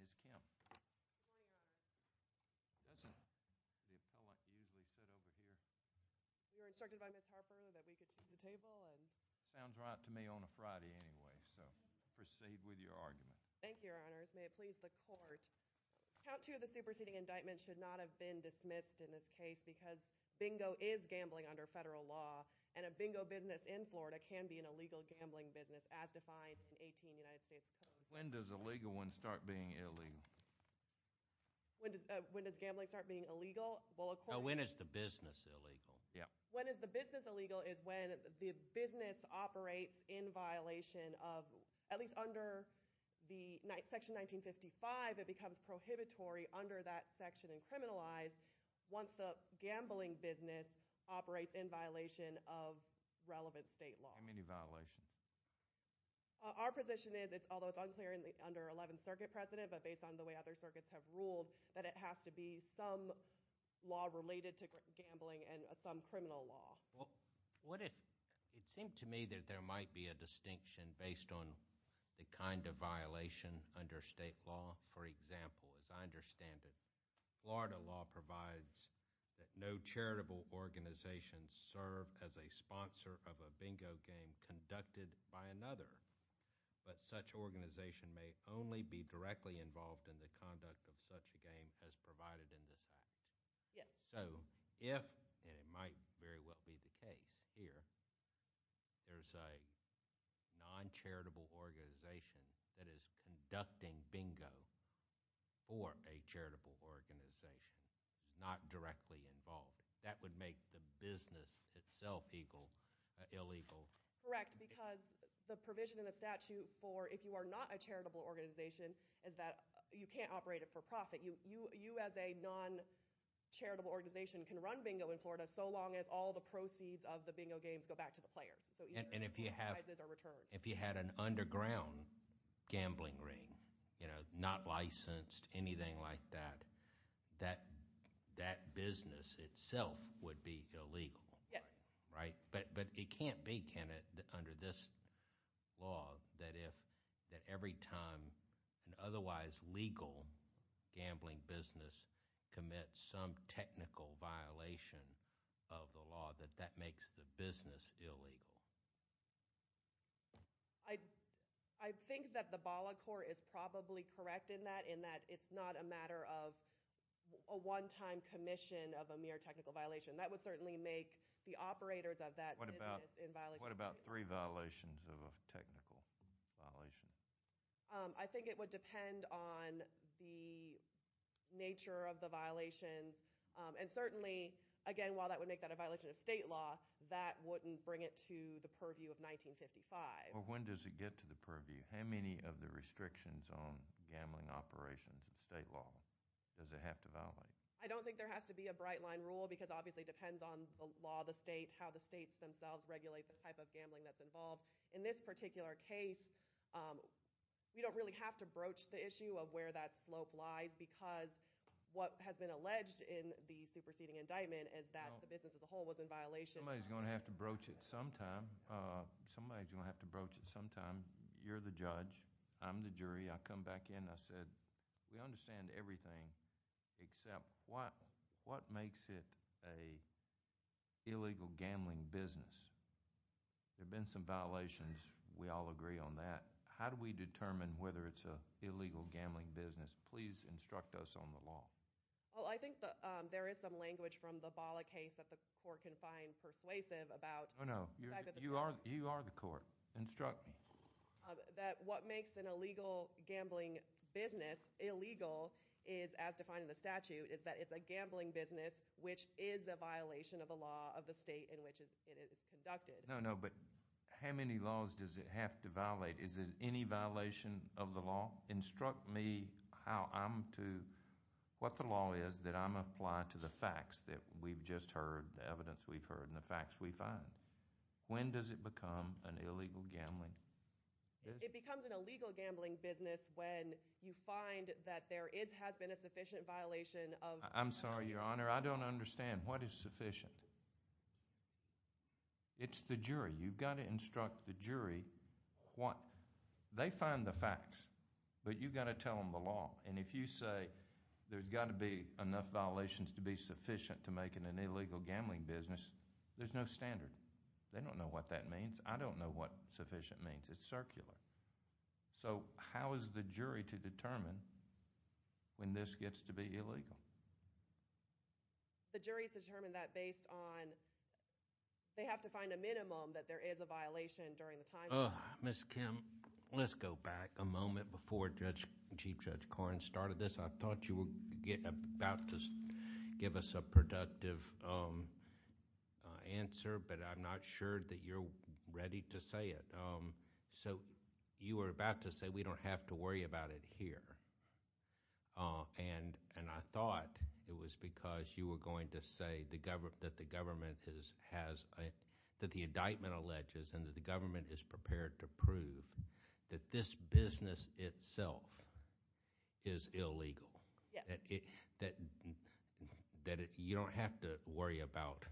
Ms. Kemp. Good morning, Your Honor. Doesn't the appellant usually sit over here? You were instructed by Ms. Harper that we could choose a table and Sounds right to me on a Friday anyway, so proceed with your argument. Thank you, Your Honors. May it please the Court. Count two of the superseding indictments should not have been dismissed in this case because bingo is gambling under federal law and a bingo business in Florida can be an illegal gambling business as defined in 18 United States When does a legal one start being illegal? When does gambling start being illegal? When is the business illegal? When is the business illegal is when the business operates in violation of at least under section 1955 it becomes prohibitory under that section and criminalized once the gambling business operates in violation of relevant state law. How many violations? Our position is although it's unclear under 11th Circuit precedent but based on the way other circuits have ruled that it has to be some law related to gambling and some criminal law. What if it seemed to me that there might be a distinction based on the kind of violation under state law for example as I understand it Florida law provides that no charitable organizations serve as a sponsor of a bingo game conducted by another but such organization may only be directly involved in the conduct of such a game as provided in this act. So if and it might very well be the case here there's a non-charitable organization that is conducting bingo for a charitable organization not directly involved. That would make the business itself illegal. Correct because the provision in the statute for if you are not a charitable organization is that you can't operate it for profit. You as a non-charitable organization can run bingo in Florida so long as all the proceeds of the bingo games go back to the players. If you had an underground gambling ring not licensed anything like that that business itself would be illegal. But it can't be under this law that if every time an otherwise legal gambling business commits some technical violation of the law that that makes the business illegal. I think that the Bala Court is probably correct in that it's not a matter of a one time commission of a mere technical violation. That would certainly make the operators of that business in violation. What about three violations of a technical violation? I think it would depend on the nature of the violations and certainly again while that would make that a violation of state law that wouldn't bring it to the purview of 1955. When does it get to the purview? How many of the restrictions on gambling operations in state law does it have to violate? I don't think there has to be a bright line rule because obviously it depends on the law of the state how the states themselves regulate the type of gambling that's involved. In this particular case we don't really have to broach the issue of where that slope lies because what has been alleged in the superseding indictment is that the business as a whole was in violation. Somebody's going to have to broach it sometime. You're the judge. I'm the jury. I come back in and I said we understand everything except what makes it a illegal gambling business. There have been some violations. We all agree on that. How do we determine whether it's an illegal gambling business? Please instruct us on the law. I think there is some language from the Bala case that the court can find persuasive about... You are the court. Instruct me. That what makes an illegal gambling business illegal is as defined in the statute is that it's a gambling business which is a violation of the law of the state in which it is conducted. How many laws does it have to violate? Is there any violation of the law? Instruct me how I'm to... What the law is that I'm going to apply to the facts that we've just heard the evidence we've heard and the facts we find. When does it become an illegal gambling business? It becomes an illegal gambling business when you find that there has been a sufficient violation of... I'm sorry, Your Honor. I don't understand. What is sufficient? It's the jury. You've got to instruct the jury what... They find the facts, but you've got to tell them the law. And if you say there's got to be enough violations to be sufficient to make it an illegal gambling business, there's no standard. They don't know what that means. I don't know what sufficient means. It's circular. So, how is the jury to determine when this gets to be illegal? The jury has determined that based on... They have to find a minimum that there is a violation during the time... Ms. Kim, let's go back a moment before Judge... Chief Judge Korn started this. I thought you were about to give us a productive answer, but I'm not sure that you're ready to say it. So, you were about to say we don't have to worry about it here. And I thought it was because you were going to say that the government has... That the indictment alleges and that the government is prepared to prove that this business itself is illegal. That you don't have to worry about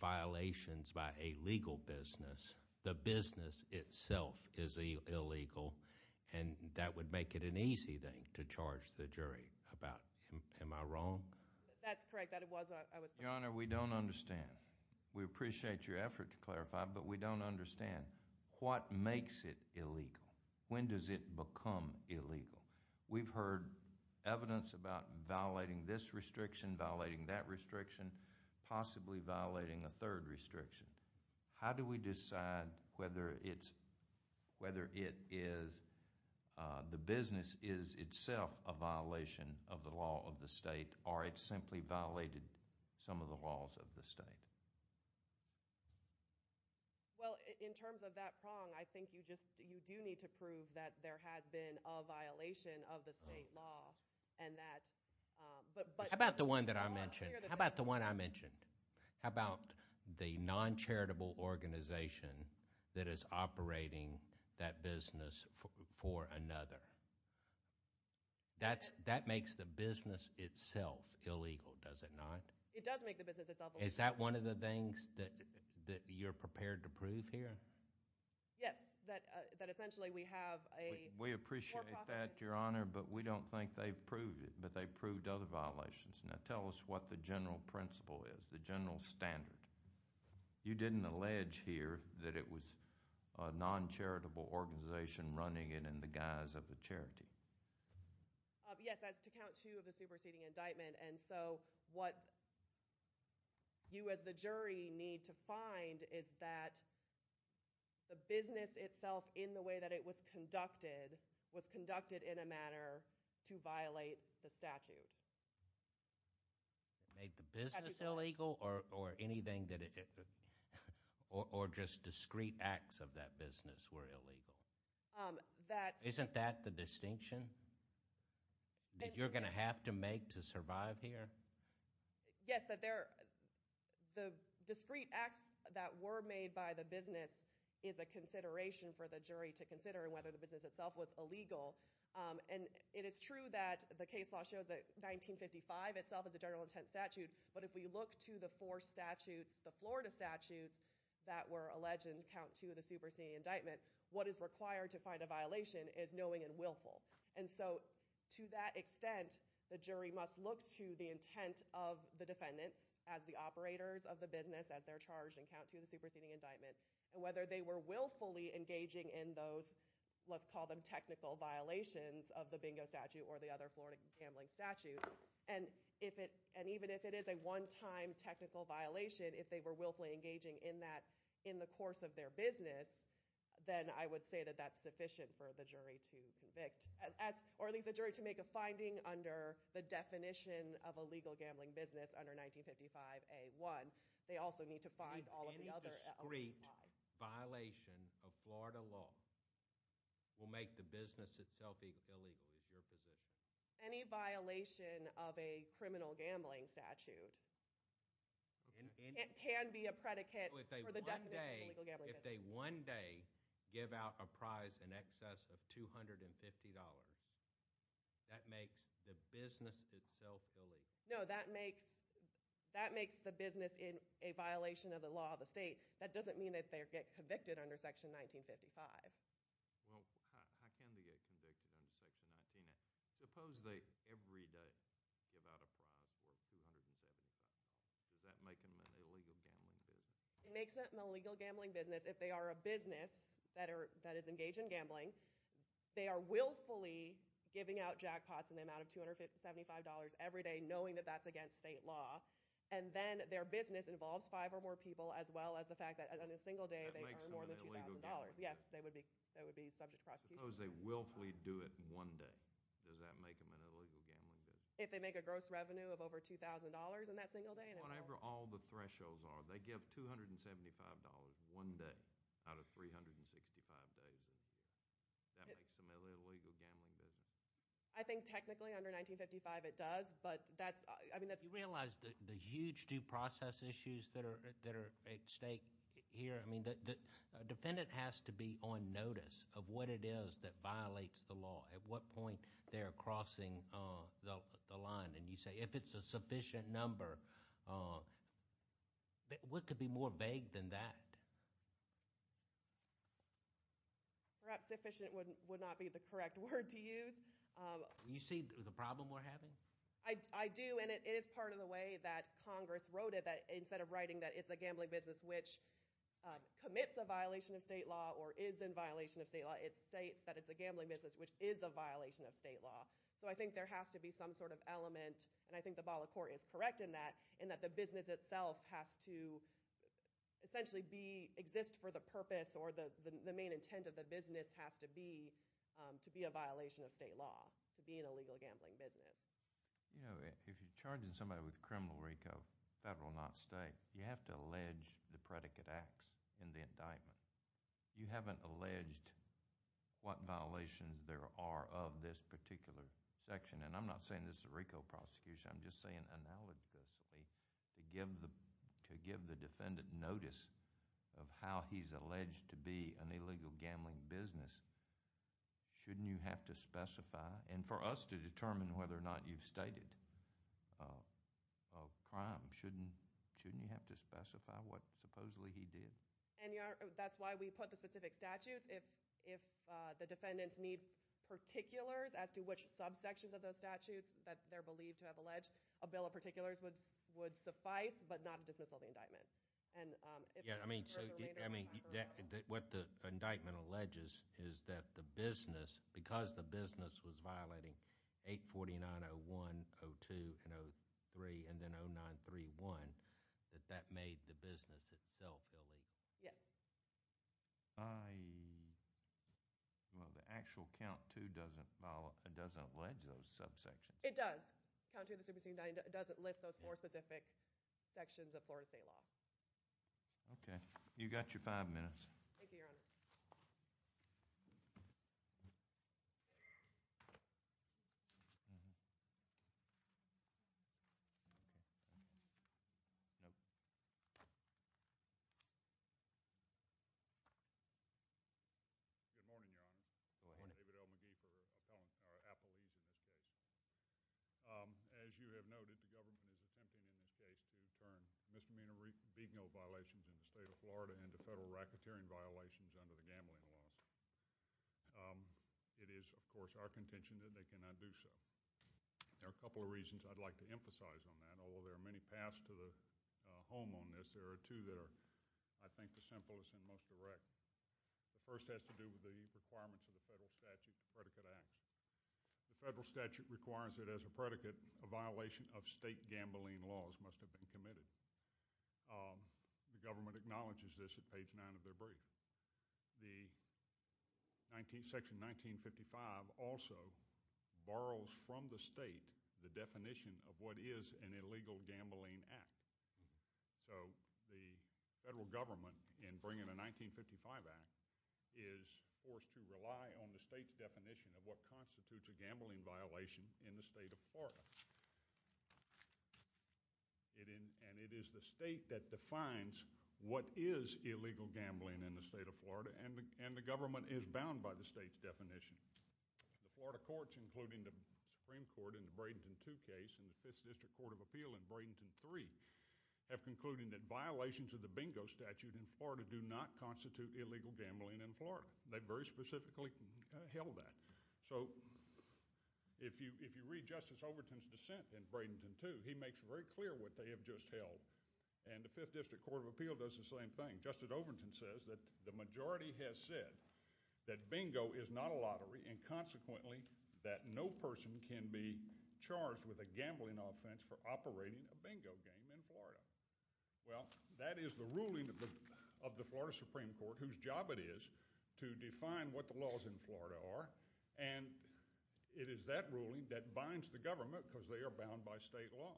violations by a legal business. The business itself is illegal and that would make it an easy thing to charge the jury about. Am I wrong? Your Honor, we don't understand. We appreciate your effort to clarify, but we don't understand what makes it illegal. When does it become illegal? We've heard evidence about violating this restriction, violating that restriction, possibly violating a third restriction. How do we decide whether it's... Whether it is... The business is itself a violation of the law of the state or it's simply violated some of the laws of the state? Well, in terms of that prong, I think you just... You do need to prove that there has been a violation of the state law and that... How about the one that I mentioned? How about the non-charitable organization that is operating that business for another? That makes the business itself illegal, does it not? It does make the business itself illegal. Is that one of the things that you're prepared to prove here? Yes, that essentially we have talked about, Your Honor, but we don't think they've proved it, but they've proved other violations. Now tell us what the general principle is, the general standard. You didn't allege here that it was a non-charitable organization running it in the guise of a charity. Yes, that's to count two of the superseding indictment, and so what you as the jury need to find is that the business itself in the way that it was conducted was conducted in a manner to violate the statute. Made the business illegal or anything that it... or just discreet acts of that business were illegal? Isn't that the distinction that you're going to have to make to survive here? Yes, that there... the discreet acts that were made by the business is a consideration for the jury to consider whether the business itself was illegal. It is true that the case law shows that 1955 itself is a general intent statute, but if we look to the four statutes, the Florida statutes, that were alleged in count two of the superseding indictment, what is required to find a violation is knowing and willful. To that extent, the jury must look to the intent of the defendants as the operators of the business as they're charged in count two of the superseding indictment. Whether they were willfully engaging in those, let's call them technical violations of the bingo statute or the other Florida gambling statute, and even if it is a one-time technical violation, if they were willfully engaging in that in the course of their business, then I would say that that's sufficient for the jury to convict. Or at least the jury to make a finding under the definition of a legal gambling business under 1955 A1, they also need to find all of the other. Any discrete violation of Florida law will make the business itself illegal is your position? Any violation of a criminal gambling statute can be a predicate for the definition of a legal gambling business. If they one day give out a prize in excess of $250, that makes the business itself illegal? No, that makes the business in a violation of the law of the state. That doesn't mean that they get convicted under section 1955. Well, how can they get convicted under section 19? Suppose they every day give out a prize worth $275. Does that make them an illegal gambling business? It makes them an illegal gambling business if they are a business that is engaged in gambling. They are willfully giving out jackpots in the amount of $275 every day knowing that that's against state law. Then their business involves five or more people as well as the fact that in a single day they earn more than $2,000. Yes, they would be subject to prosecution. Suppose they willfully do it one day. Does that make them an illegal gambling business? If they make a gross revenue of over $2,000 in that single day. Whenever all the thresholds are, they give $275 one day out of 365 days. That makes them an illegal gambling business. I think technically under 1955 it does. You realize the huge due process issues that are at stake here. A defendant has to be on notice of what it is that violates the law. At what point they are crossing the line. You say if it's a sufficient number. What could be more vague than that? Perhaps sufficient would not be the correct word to use. Do you see the problem we're having? I do. It is part of the way that Congress wrote it. Instead of writing that it's a gambling business which commits a violation of state law or is in violation of state law, it states that it's a gambling business which is a violation of state law. I think there has to be some sort of element. I think the ball of court is correct in that. The business itself has to essentially exist for the purpose or the main intent of the business has to be to be a violation of state law. To be an illegal gambling business. If you're charging somebody with criminal RICO, federal not state, you have to allege the predicate acts in the indictment. You haven't alleged what violations there are of this particular section. I'm not saying this is a RICO prosecution. I'm just saying analogously to give the defendant notice of how he's alleged to be an illegal gambling business, shouldn't you have to specify, and for us to determine whether or not you've stated a crime, shouldn't you have to specify what supposedly he did? That's why we put the specific statutes. If the defendants need particulars as to which subsections of those statutes that they're believed to have alleged, a bill of particulars would suffice but not dismissal of the indictment. What the indictment alleges is that the business, because the business was violating 849-01, 02, and 03, and then 09-31, that that made the business itself illegal. Yes. The actual count too doesn't allege those subsections. It does. Count two of the superseding indictment doesn't list those four specific sections of Florida State law. Okay. You've got your five minutes. Thank you, Your Honor. Good morning, Your Honor. David L. McGee for Appalachian. As you have noted, the government is attempting in this case to turn misdemeanor vehicle violations in the state of Florida into federal racketeering violations under the gambling laws. It is, of course, our contention that they cannot do so. There are a couple of reasons I'd like to emphasize on that, although there are many paths to the home on this. There are two that are, I think, the simplest and most direct. The first has to do with the requirements of the federal statute predicate acts. The federal statute requires that as a predicate, a violation of state gambling laws must have been committed. The government acknowledges this at page nine of their brief. The section 1955 also borrows from the state the definition of what is an illegal gambling act. So, the federal government, in bringing a 1955 act, is forced to rely on the state's definition of what constitutes a gambling violation in the state of Florida. And it is the state that defines what is illegal gambling in the state of Florida and the government is bound by the state's definition. The Florida courts, including the Supreme Court in the Bradenton 2 case and the Fifth District Court of Appeal in Bradenton 3, have concluded that violations of the bingo statute in Florida do not constitute illegal gambling. And they very specifically held that. So, if you read Justice Overton's dissent in Bradenton 2, he makes it very clear what they have just held. And the Fifth District Court of Appeal does the same thing. Justice Overton says that the majority has said that bingo is not a lottery and consequently that no person can be charged with a gambling offense for operating a bingo game in Florida. Well, that is the ruling of the Florida Supreme Court whose job it is to define what the laws in Florida are and it is that ruling that binds the government because they are bound by state law.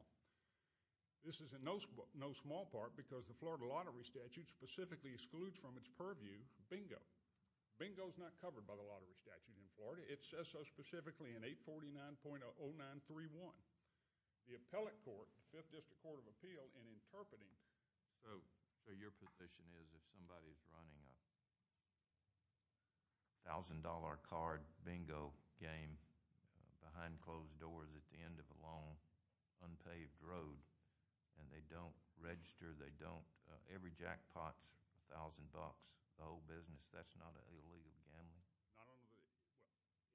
This is in no small part because the Florida lottery statute specifically excludes from its purview bingo. Bingo is not covered by the lottery statute in Florida. It says so specifically in 849.0931. The appellate court, the Fifth District Court of Appeal. So, your position is if somebody is running a thousand dollar card bingo game behind closed doors at the end of a long unpaved road and they don't register, they don't, every jackpot, a thousand bucks, the whole business, that's not an illegal gambling?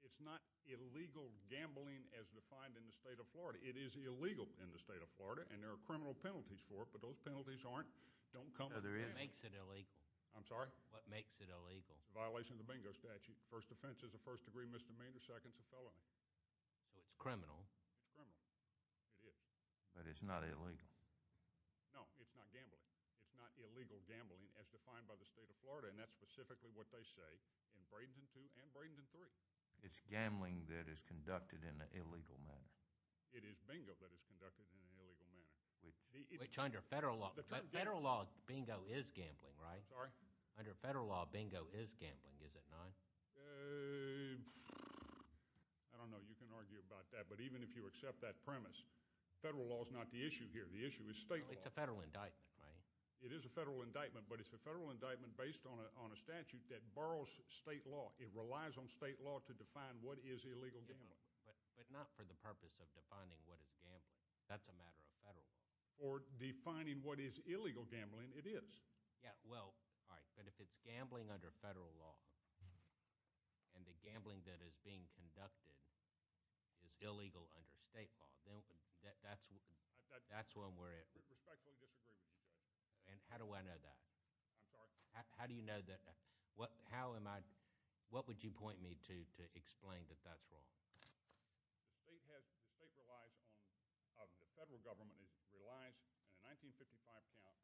It's not illegal gambling as defined in the state of Florida. It is illegal in the state of Florida and there are criminal penalties for it but those penalties aren't, don't come... What makes it illegal? The violation of the bingo statute. First offense is a first degree misdemeanor, second is a felony. So, it's criminal? It's criminal. But it's not illegal? No, it's not gambling. It's not illegal gambling as defined by the state of Florida and that's specifically what they say in Bradenton 2 and Bradenton 3. It's gambling that is conducted in an illegal manner? It is bingo that is conducted in an illegal manner. Federal law, bingo is gambling, right? Under federal law, bingo is gambling, is it not? I don't know. You can argue about that but even if you accept that premise, federal law is not the issue here. The issue is state law. It's a federal indictment, right? It is a federal indictment but it's a federal indictment based on a statute that borrows state law. It relies on state law to define what is illegal gambling. But not for the purpose of defining what is gambling. That's a matter of federal law. Or defining what is illegal gambling, it is. Yeah, well, alright, but if it's gambling under federal law and the gambling that is being conducted is illegal under state law, then that's one where I respectfully disagree with you there. And how do I know that? How do you know that? What would you point me to explain that that's wrong? The state relies on the federal government. It relies, in a 1955 count,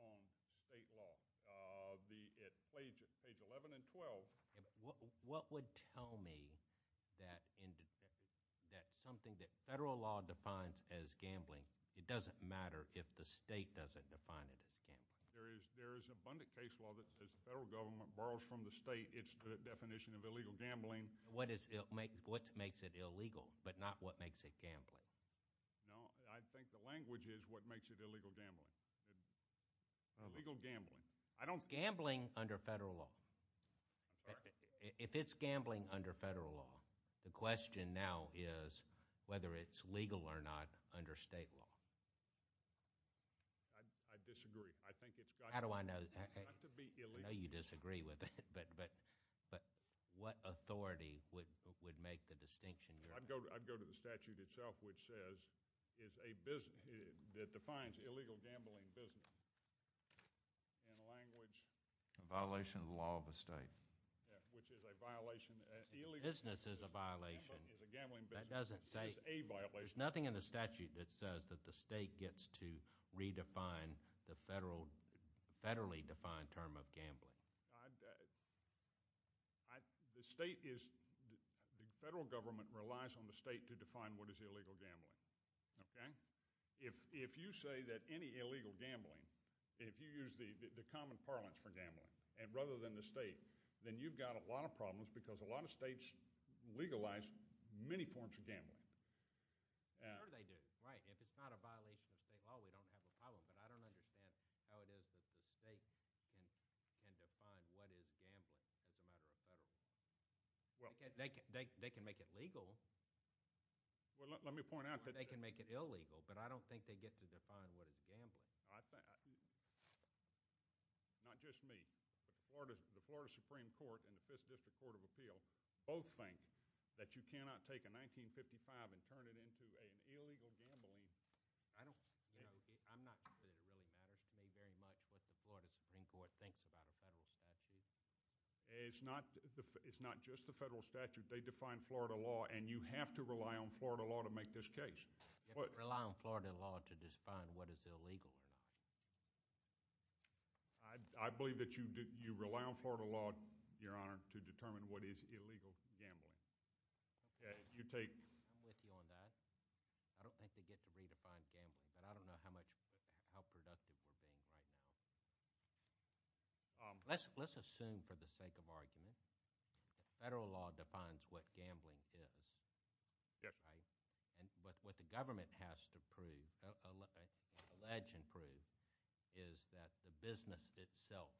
on state law. Page 11 and 12. What would tell me that something that federal law defines as gambling, it doesn't matter if the state doesn't define it as gambling? There is abundant case law that the federal government borrows from the state. It's the definition of illegal gambling. What makes it illegal, but not what makes it gambling? No, I think the language is what makes it illegal gambling. Illegal gambling. It's gambling under federal law. If it's gambling under federal law, the question now is whether it's legal or not under state law. I disagree. I think it's got to be illegal. I know you disagree with it, but what authority would make the distinction? I'd go to the statute itself, which says it's a business that defines illegal gambling business in a language... A violation of the law of the state. Yeah, which is a violation... A business is a violation. It's a gambling business. It's a violation. There's nothing in the statute that says that the state gets to redefine the federally defined term of gambling. The state is... The federal government relies on the state to define what is illegal gambling. If you say that any illegal gambling... If you use the common parlance for gambling rather than the state, then you've got a lot of problems because a lot of states legalize many forms of gambling. Sure they do. Right. If it's not a violation of state law, we don't have a problem, but I don't understand how it is that the state can define what is gambling as a matter of federal law. They can make it legal. Let me point out that... They can make it illegal, but I don't think they get to define what is gambling. I think... Not just me. The Florida Supreme Court and the 5th District Court of Appeal both think that you cannot take a 1955 and turn it into an illegal gambling. I'm not sure that it really matters to me very much what the Florida Supreme Court thinks about a federal statute. It's not just the federal statute. They define Florida law and you have to rely on Florida law to make this case. You have to rely on Florida law to define what is illegal or not. I believe that you rely on Florida law, Your Honor, to determine what is illegal gambling. You take... I'm with you on that. I don't think they get to redefine gambling, but I don't know how productive we're being right now. Let's assume, for the sake of argument, federal law defines what gambling is. What the government has to prove, is that the business itself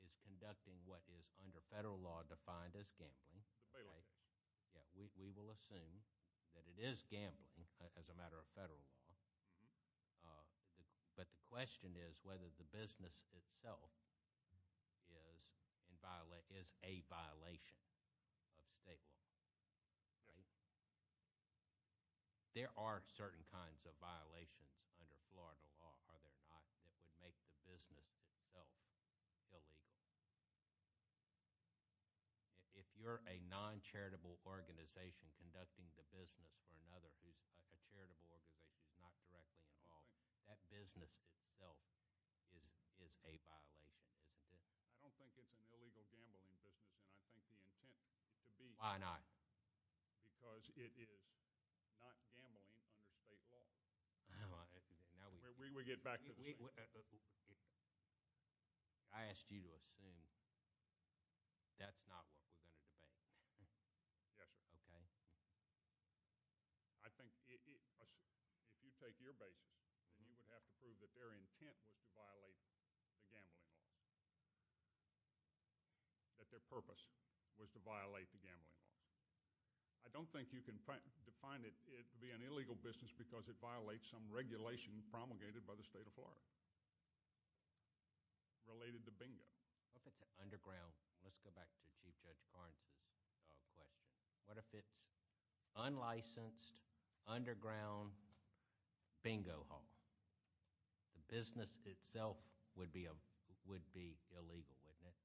is conducting what is under federal law defined as and we'll assume that it is gambling as a matter of federal law, but the question is whether the business itself is a violation of state law. Right? There are certain kinds of violations under Florida law, are there not, that would make the business itself illegal. If you're a non-charitable organization conducting the business for another who's a charitable organization not directly involved, that business itself is a violation, isn't it? I don't think it's an illegal gambling business and I think the intent could be... Why not? Because it is not gambling under state law. We'll get back to this later. I asked you to assume that's not what was under debate. Yes sir. I think if you take your basis then you would have to prove that their intent was to violate the gambling law. That their purpose was to violate the gambling law. I don't think you can define it to be an illegal business because it violates some regulation promulgated by the state of Florida related to bingo. What if it's an underground... Let's go back to Chief Judge Karnes' question. What if it's unlicensed, underground bingo hall? The business itself would be illegal, wouldn't it?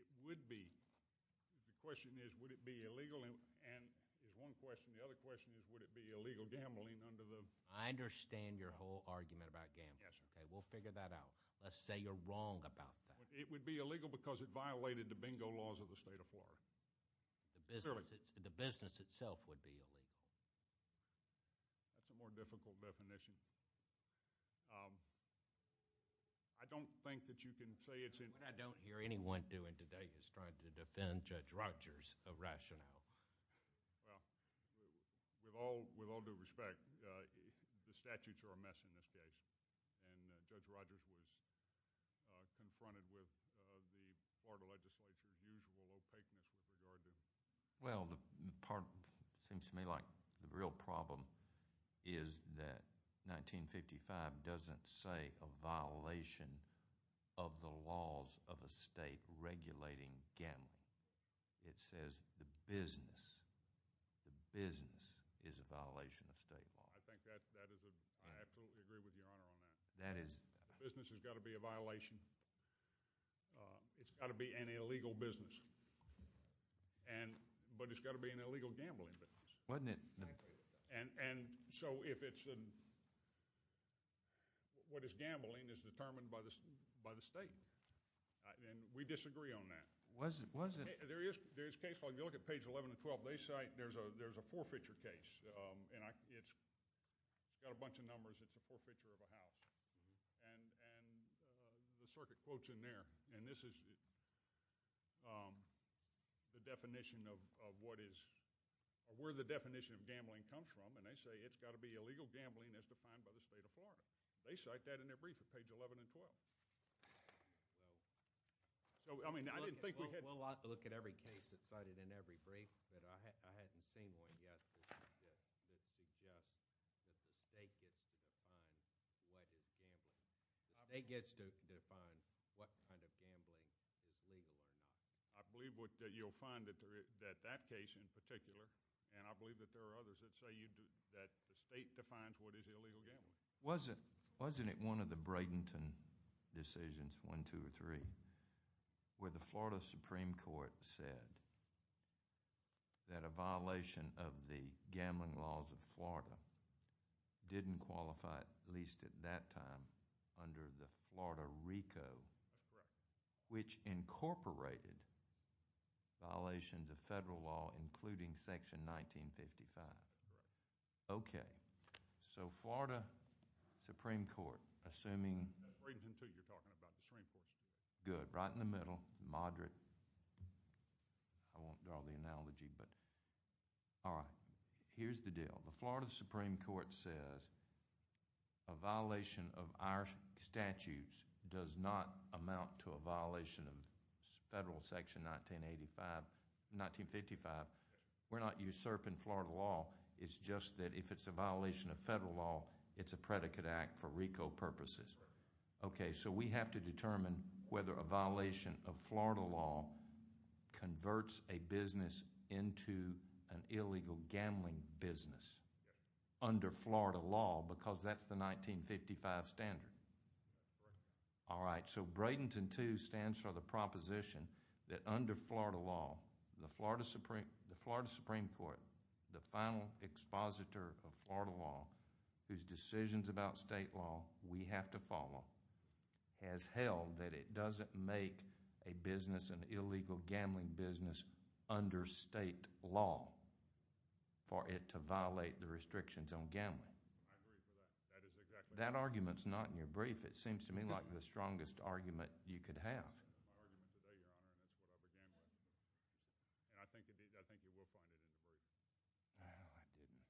It would be. The question is would it be illegal and is one question. The other question is would it be illegal gambling under the... I understand your whole argument about gambling. We'll figure that out. Let's say you're wrong about that. It would be illegal because it violated the bingo laws of the state of Florida. The business itself would be illegal. That's a more difficult definition. I don't think that you can say it's illegal. What I don't hear anyone doing today is trying to defend Judge Rogers' rationale. With all due respect, the statutes are a mess in this case and Judge Rogers was confronted with the Florida legislature's usual opaqueness with regard to... Well, the part that seems to me like the real problem is that 1955 doesn't say a violation of the laws of a state regulating gambling. It says the business is a violation of state law. I absolutely agree with Your Honor on that. Business has got to be a violation. It's got to be an illegal business. But it's got to be an illegal gambling business. And so if it's... What is gambling is determined by the state. And we disagree on that. If you look at page 11 and 12, they cite there's a forfeiture case and it's got a bunch of numbers. It's a forfeiture of a house. And the circuit quote's in there. And this is the definition of what is... Where the definition of gambling comes from. And they say it's got to be illegal gambling as defined by the state of Florida. They cite that in their brief. We'll look at every case that's cited in every brief. I haven't seen one yet that suggests that the state gets to define what is gambling. The state gets to define what kind of gambling is legal or not. I believe that you'll find that that case in particular, and I believe that there are others that say that the state defines what is illegal gambling. Wasn't it one of the two or three where the Florida Supreme Court said that a violation of the gambling laws of Florida didn't qualify, at least at that time, under the Florida RICO, which incorporated violations of federal law, including section 1955? Okay. So Florida Supreme Court, assuming... Bradenton, too. You're talking about the Supreme Court. Good. Right in the middle. Moderate. I won't draw the analogy, but... All right. Here's the deal. The Florida Supreme Court says a violation of our statutes does not amount to a violation of federal section 1955. We're not usurping Florida law. It's just that if it's a violation of federal law, it's a predicate act for RICO purposes. Okay. So we have to determine whether a violation of Florida law converts a business into an illegal gambling business under Florida law because that's the 1955 standard. All right. So Bradenton, too, stands for the proposition that under Florida law, the Florida Supreme Court, the final expositor of Florida law, whose decisions about state law we have to follow, has held that it doesn't make a business an illegal gambling business under state law for it to violate the restrictions on gambling. I agree with that. That is exactly... That argument's not in your brief. It seems to me like the strongest argument you could have. That's my argument today, Your Honor, and that's what I began with. And I think you will find it in the brief. No, I didn't.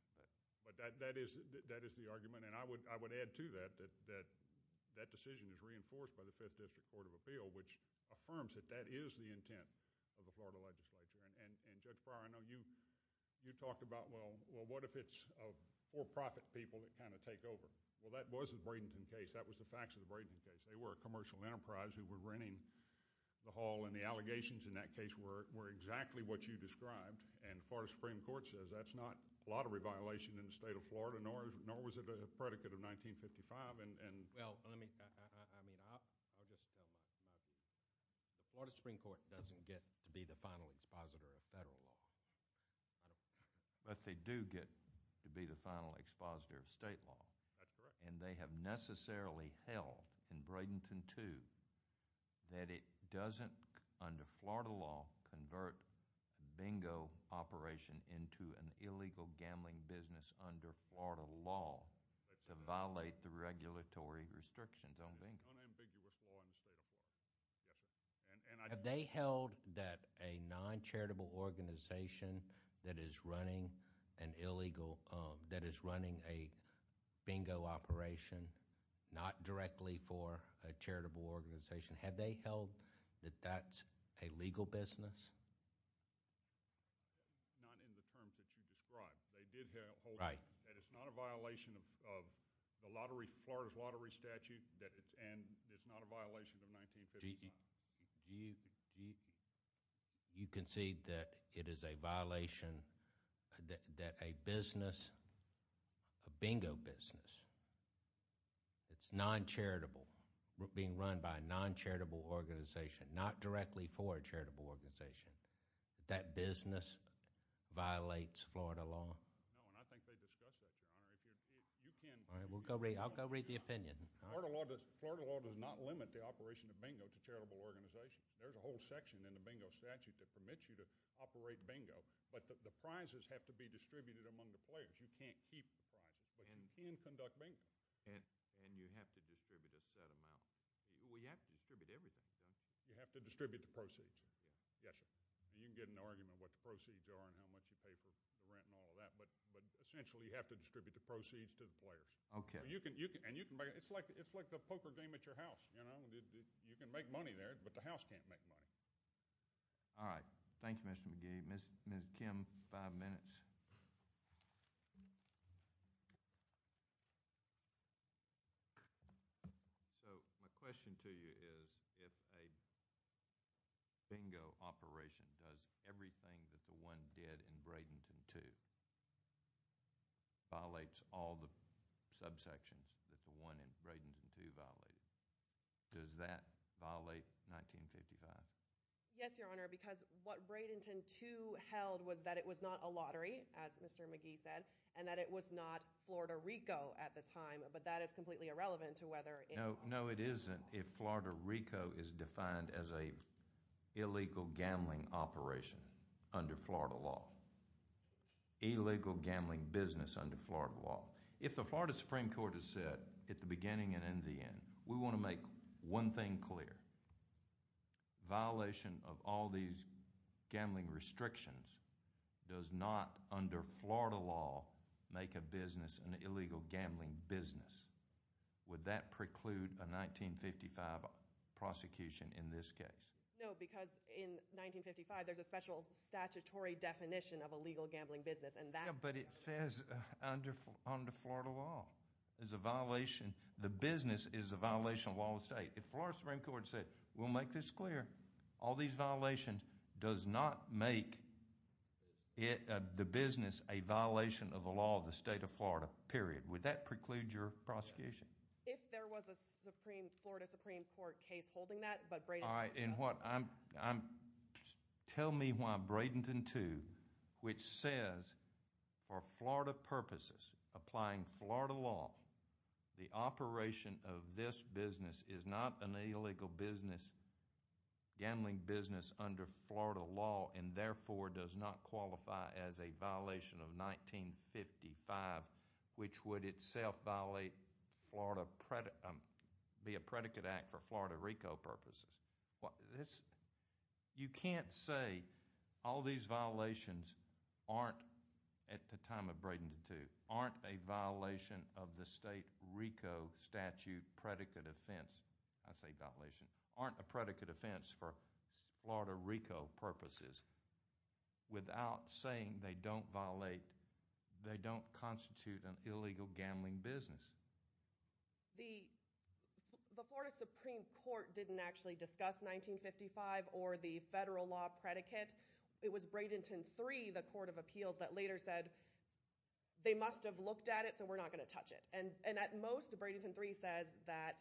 But that is the argument, and I would add to that that that decision is reinforced by the Fifth District Court of Appeal, which affirms that that is the intent of the Florida legislature. And Judge Breyer, I know you talked about, well, what if it's for-profit people that kind of take over? Well, that was the Bradenton case. That was the facts of the Bradenton case. They were a commercial enterprise who were renting the hall, and the allegations in that case were exactly what you described. And the Florida Supreme Court says that's not a lottery violation in the state of Florida, nor was it a predicate of 1955. Well, I mean, I'll just tell my view. The Florida Supreme Court doesn't get to be the final expositor of federal law. But they do get to be the final expositor of state law. That's correct. And they have necessarily held in Bradenton 2 that it doesn't, under the state of Florida, organization to run a bingo operation into an illegal gambling business under Florida law to violate the regulatory restrictions on bingo. Unambiguous law in the state of Florida. Have they held that a non-charitable organization that is running an illegal, that is running a bingo operation, not directly for a charitable organization, have they held that that's a legal business? Not in the terms that you described. They did hold that. It's not a violation of the lottery, Florida's lottery statute, and it's not a violation of 1955. Do you concede that it is a violation that a business, a bingo business, that's non-charitable, being run by a non-charitable organization, not directly for a charitable organization, that business violates Florida law? No, and I think they discussed that, Your Honor. If you can... I'll go read the opinion. Florida law does not limit the operation of bingo to charitable organizations. There's a whole section in the bingo statute that the prizes have to be distributed among the players. You can't keep the prizes, but you can conduct bingo. And you have to distribute a set amount. Well, you have to distribute everything. You have to distribute the proceeds. Yes, sir. You can get into an argument about what the proceeds are and how much you pay for the rent and all of that, but essentially you have to distribute the proceeds to the players. It's like the poker game at your house. You can make money there, but the house can't make money. All right. Thank you, Mr. McGee. Ms. Kim, five minutes. So, my question to you is if a bingo operation does everything that the one did in Bradenton 2 violates all the subsections that the one in Bradenton 2 violated, does that violate 1955? Yes, Your Honor, because what Bradenton 2 held was that it was not a lottery, as Mr. McGee said, and that it was not Florida Rico at the time, but that is completely irrelevant to whether it was. No, it isn't if Florida Rico is defined as an illegal gambling operation under Florida law. Illegal gambling business under Florida law. If the Florida Supreme Court has said at the beginning and in the end, we want to make one thing clear, violation of all these gambling restrictions does not under Florida law make a business an illegal gambling business. Would that preclude a 1955 prosecution in this case? No, because in 1955 there's a special statutory definition of illegal gambling business and that... Yeah, but it says under Florida law is a violation. The business is a violation of the law of the state. If Florida Supreme Court said, we'll make this clear, all these violations does not make the business a violation of the law of the state of Florida, period. Would that preclude your prosecution? If there was a Florida Supreme Court case holding that, but Bradenton 2... Alright, and what I'm... Tell me why Bradenton 2, which says for Florida purposes applying Florida law, the operation of this business is not an illegal business, gambling business under Florida law and therefore does not qualify as a violation of 1955, which would itself violate Florida... be a predicate act for Florida RICO purposes. This... You can't say all these violations aren't at the time of Bradenton 2 aren't a violation of the state RICO statute predicate offense. I say violation. Aren't a predicate offense for Florida RICO purposes without saying they don't violate, they don't constitute an illegal gambling business. The... The Florida Supreme Court didn't actually discuss 1955 or the federal law predicate. It was Bradenton 3, the court of appeals, that later said they must have looked at it, so we're not going to touch it. And at most, Bradenton 3 says that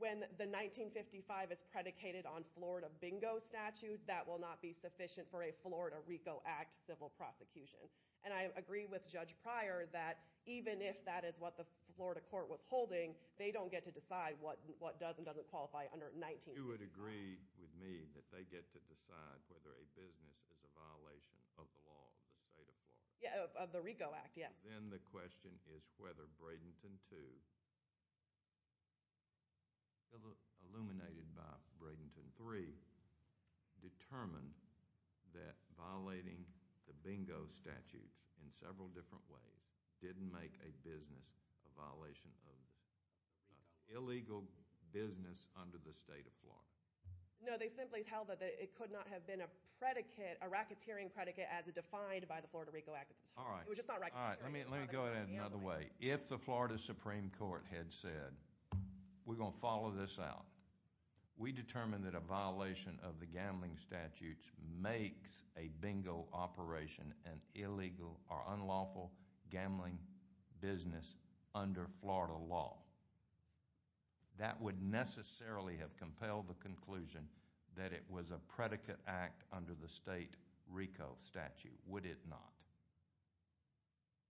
when the 1955 is predicated on Florida bingo statute, that will not be sufficient for a Florida RICO act civil prosecution. And I agree with Judge Pryor that even if that is what the Florida court was holding, they don't get to decide what does and doesn't qualify under 1955. You would agree with me that they get to decide whether a business is a violation of the law of the state of Florida. Of the RICO act, yes. Then the question is whether Bradenton 2 illuminated by Bradenton 3 determined that violating the bingo statute in several different ways didn't make a business a violation of illegal business under the state of Florida. No, they simply held that it could not have been a predicate, a racketeering predicate as defined by the Florida RICO act. Let me go at it another way. If the Florida Supreme Court had said we're going to follow this out, we determined that a violation of the gambling statutes makes a bingo operation an illegal or unlawful gambling business under Florida law. That would necessarily have compelled the conclusion that it was a predicate act under the state RICO statute, would it not?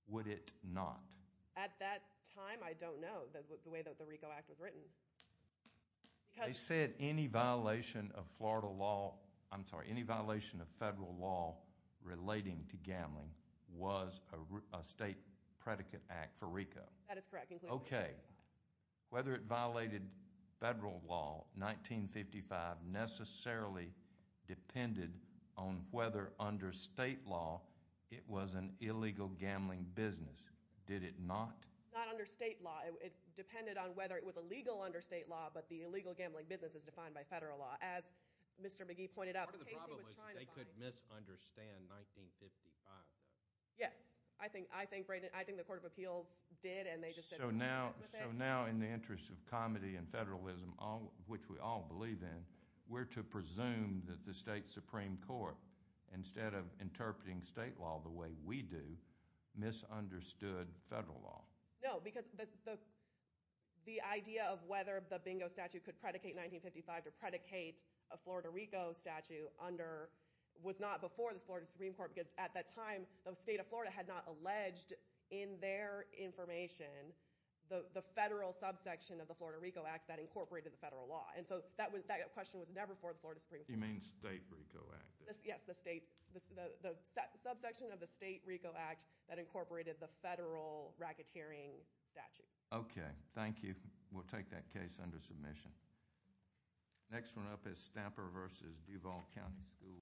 Would it not? At that time I don't know the way that the RICO act was written. They said any violation of Florida law, I'm sorry, any violation of federal law relating to gambling was a state predicate act for RICO. That is correct. Okay. Whether it violated federal law 1955 necessarily depended on whether under state law it was an illegal gambling business. Did it not? Not under state law. It depended on whether it was illegal under state law but the illegal gambling business is defined by federal law as Mr. McGee pointed out. Part of the problem was they could misunderstand 1955 though. Yes. I think the Court of Appeals did. So now in the interest of comedy and federalism, which we all believe in, we're to presume that the state Supreme Court instead of interpreting state law the way we do misunderstood federal law. No, because the idea of whether the BINGO statute could predicate 1955 to predicate a Florida RICO statute was not before the Florida Supreme Court because at that time the state of Florida had not alleged in their information the federal subsection of the Florida RICO Act that incorporated the federal law. So that question was never for the Florida Supreme Court. You mean state RICO Act? Yes, the state subsection of the state RICO Act that incorporated the federal racketeering statute. Okay. Thank you. We'll take that case under submission. Next one up is Stamper v. Duval County Schools.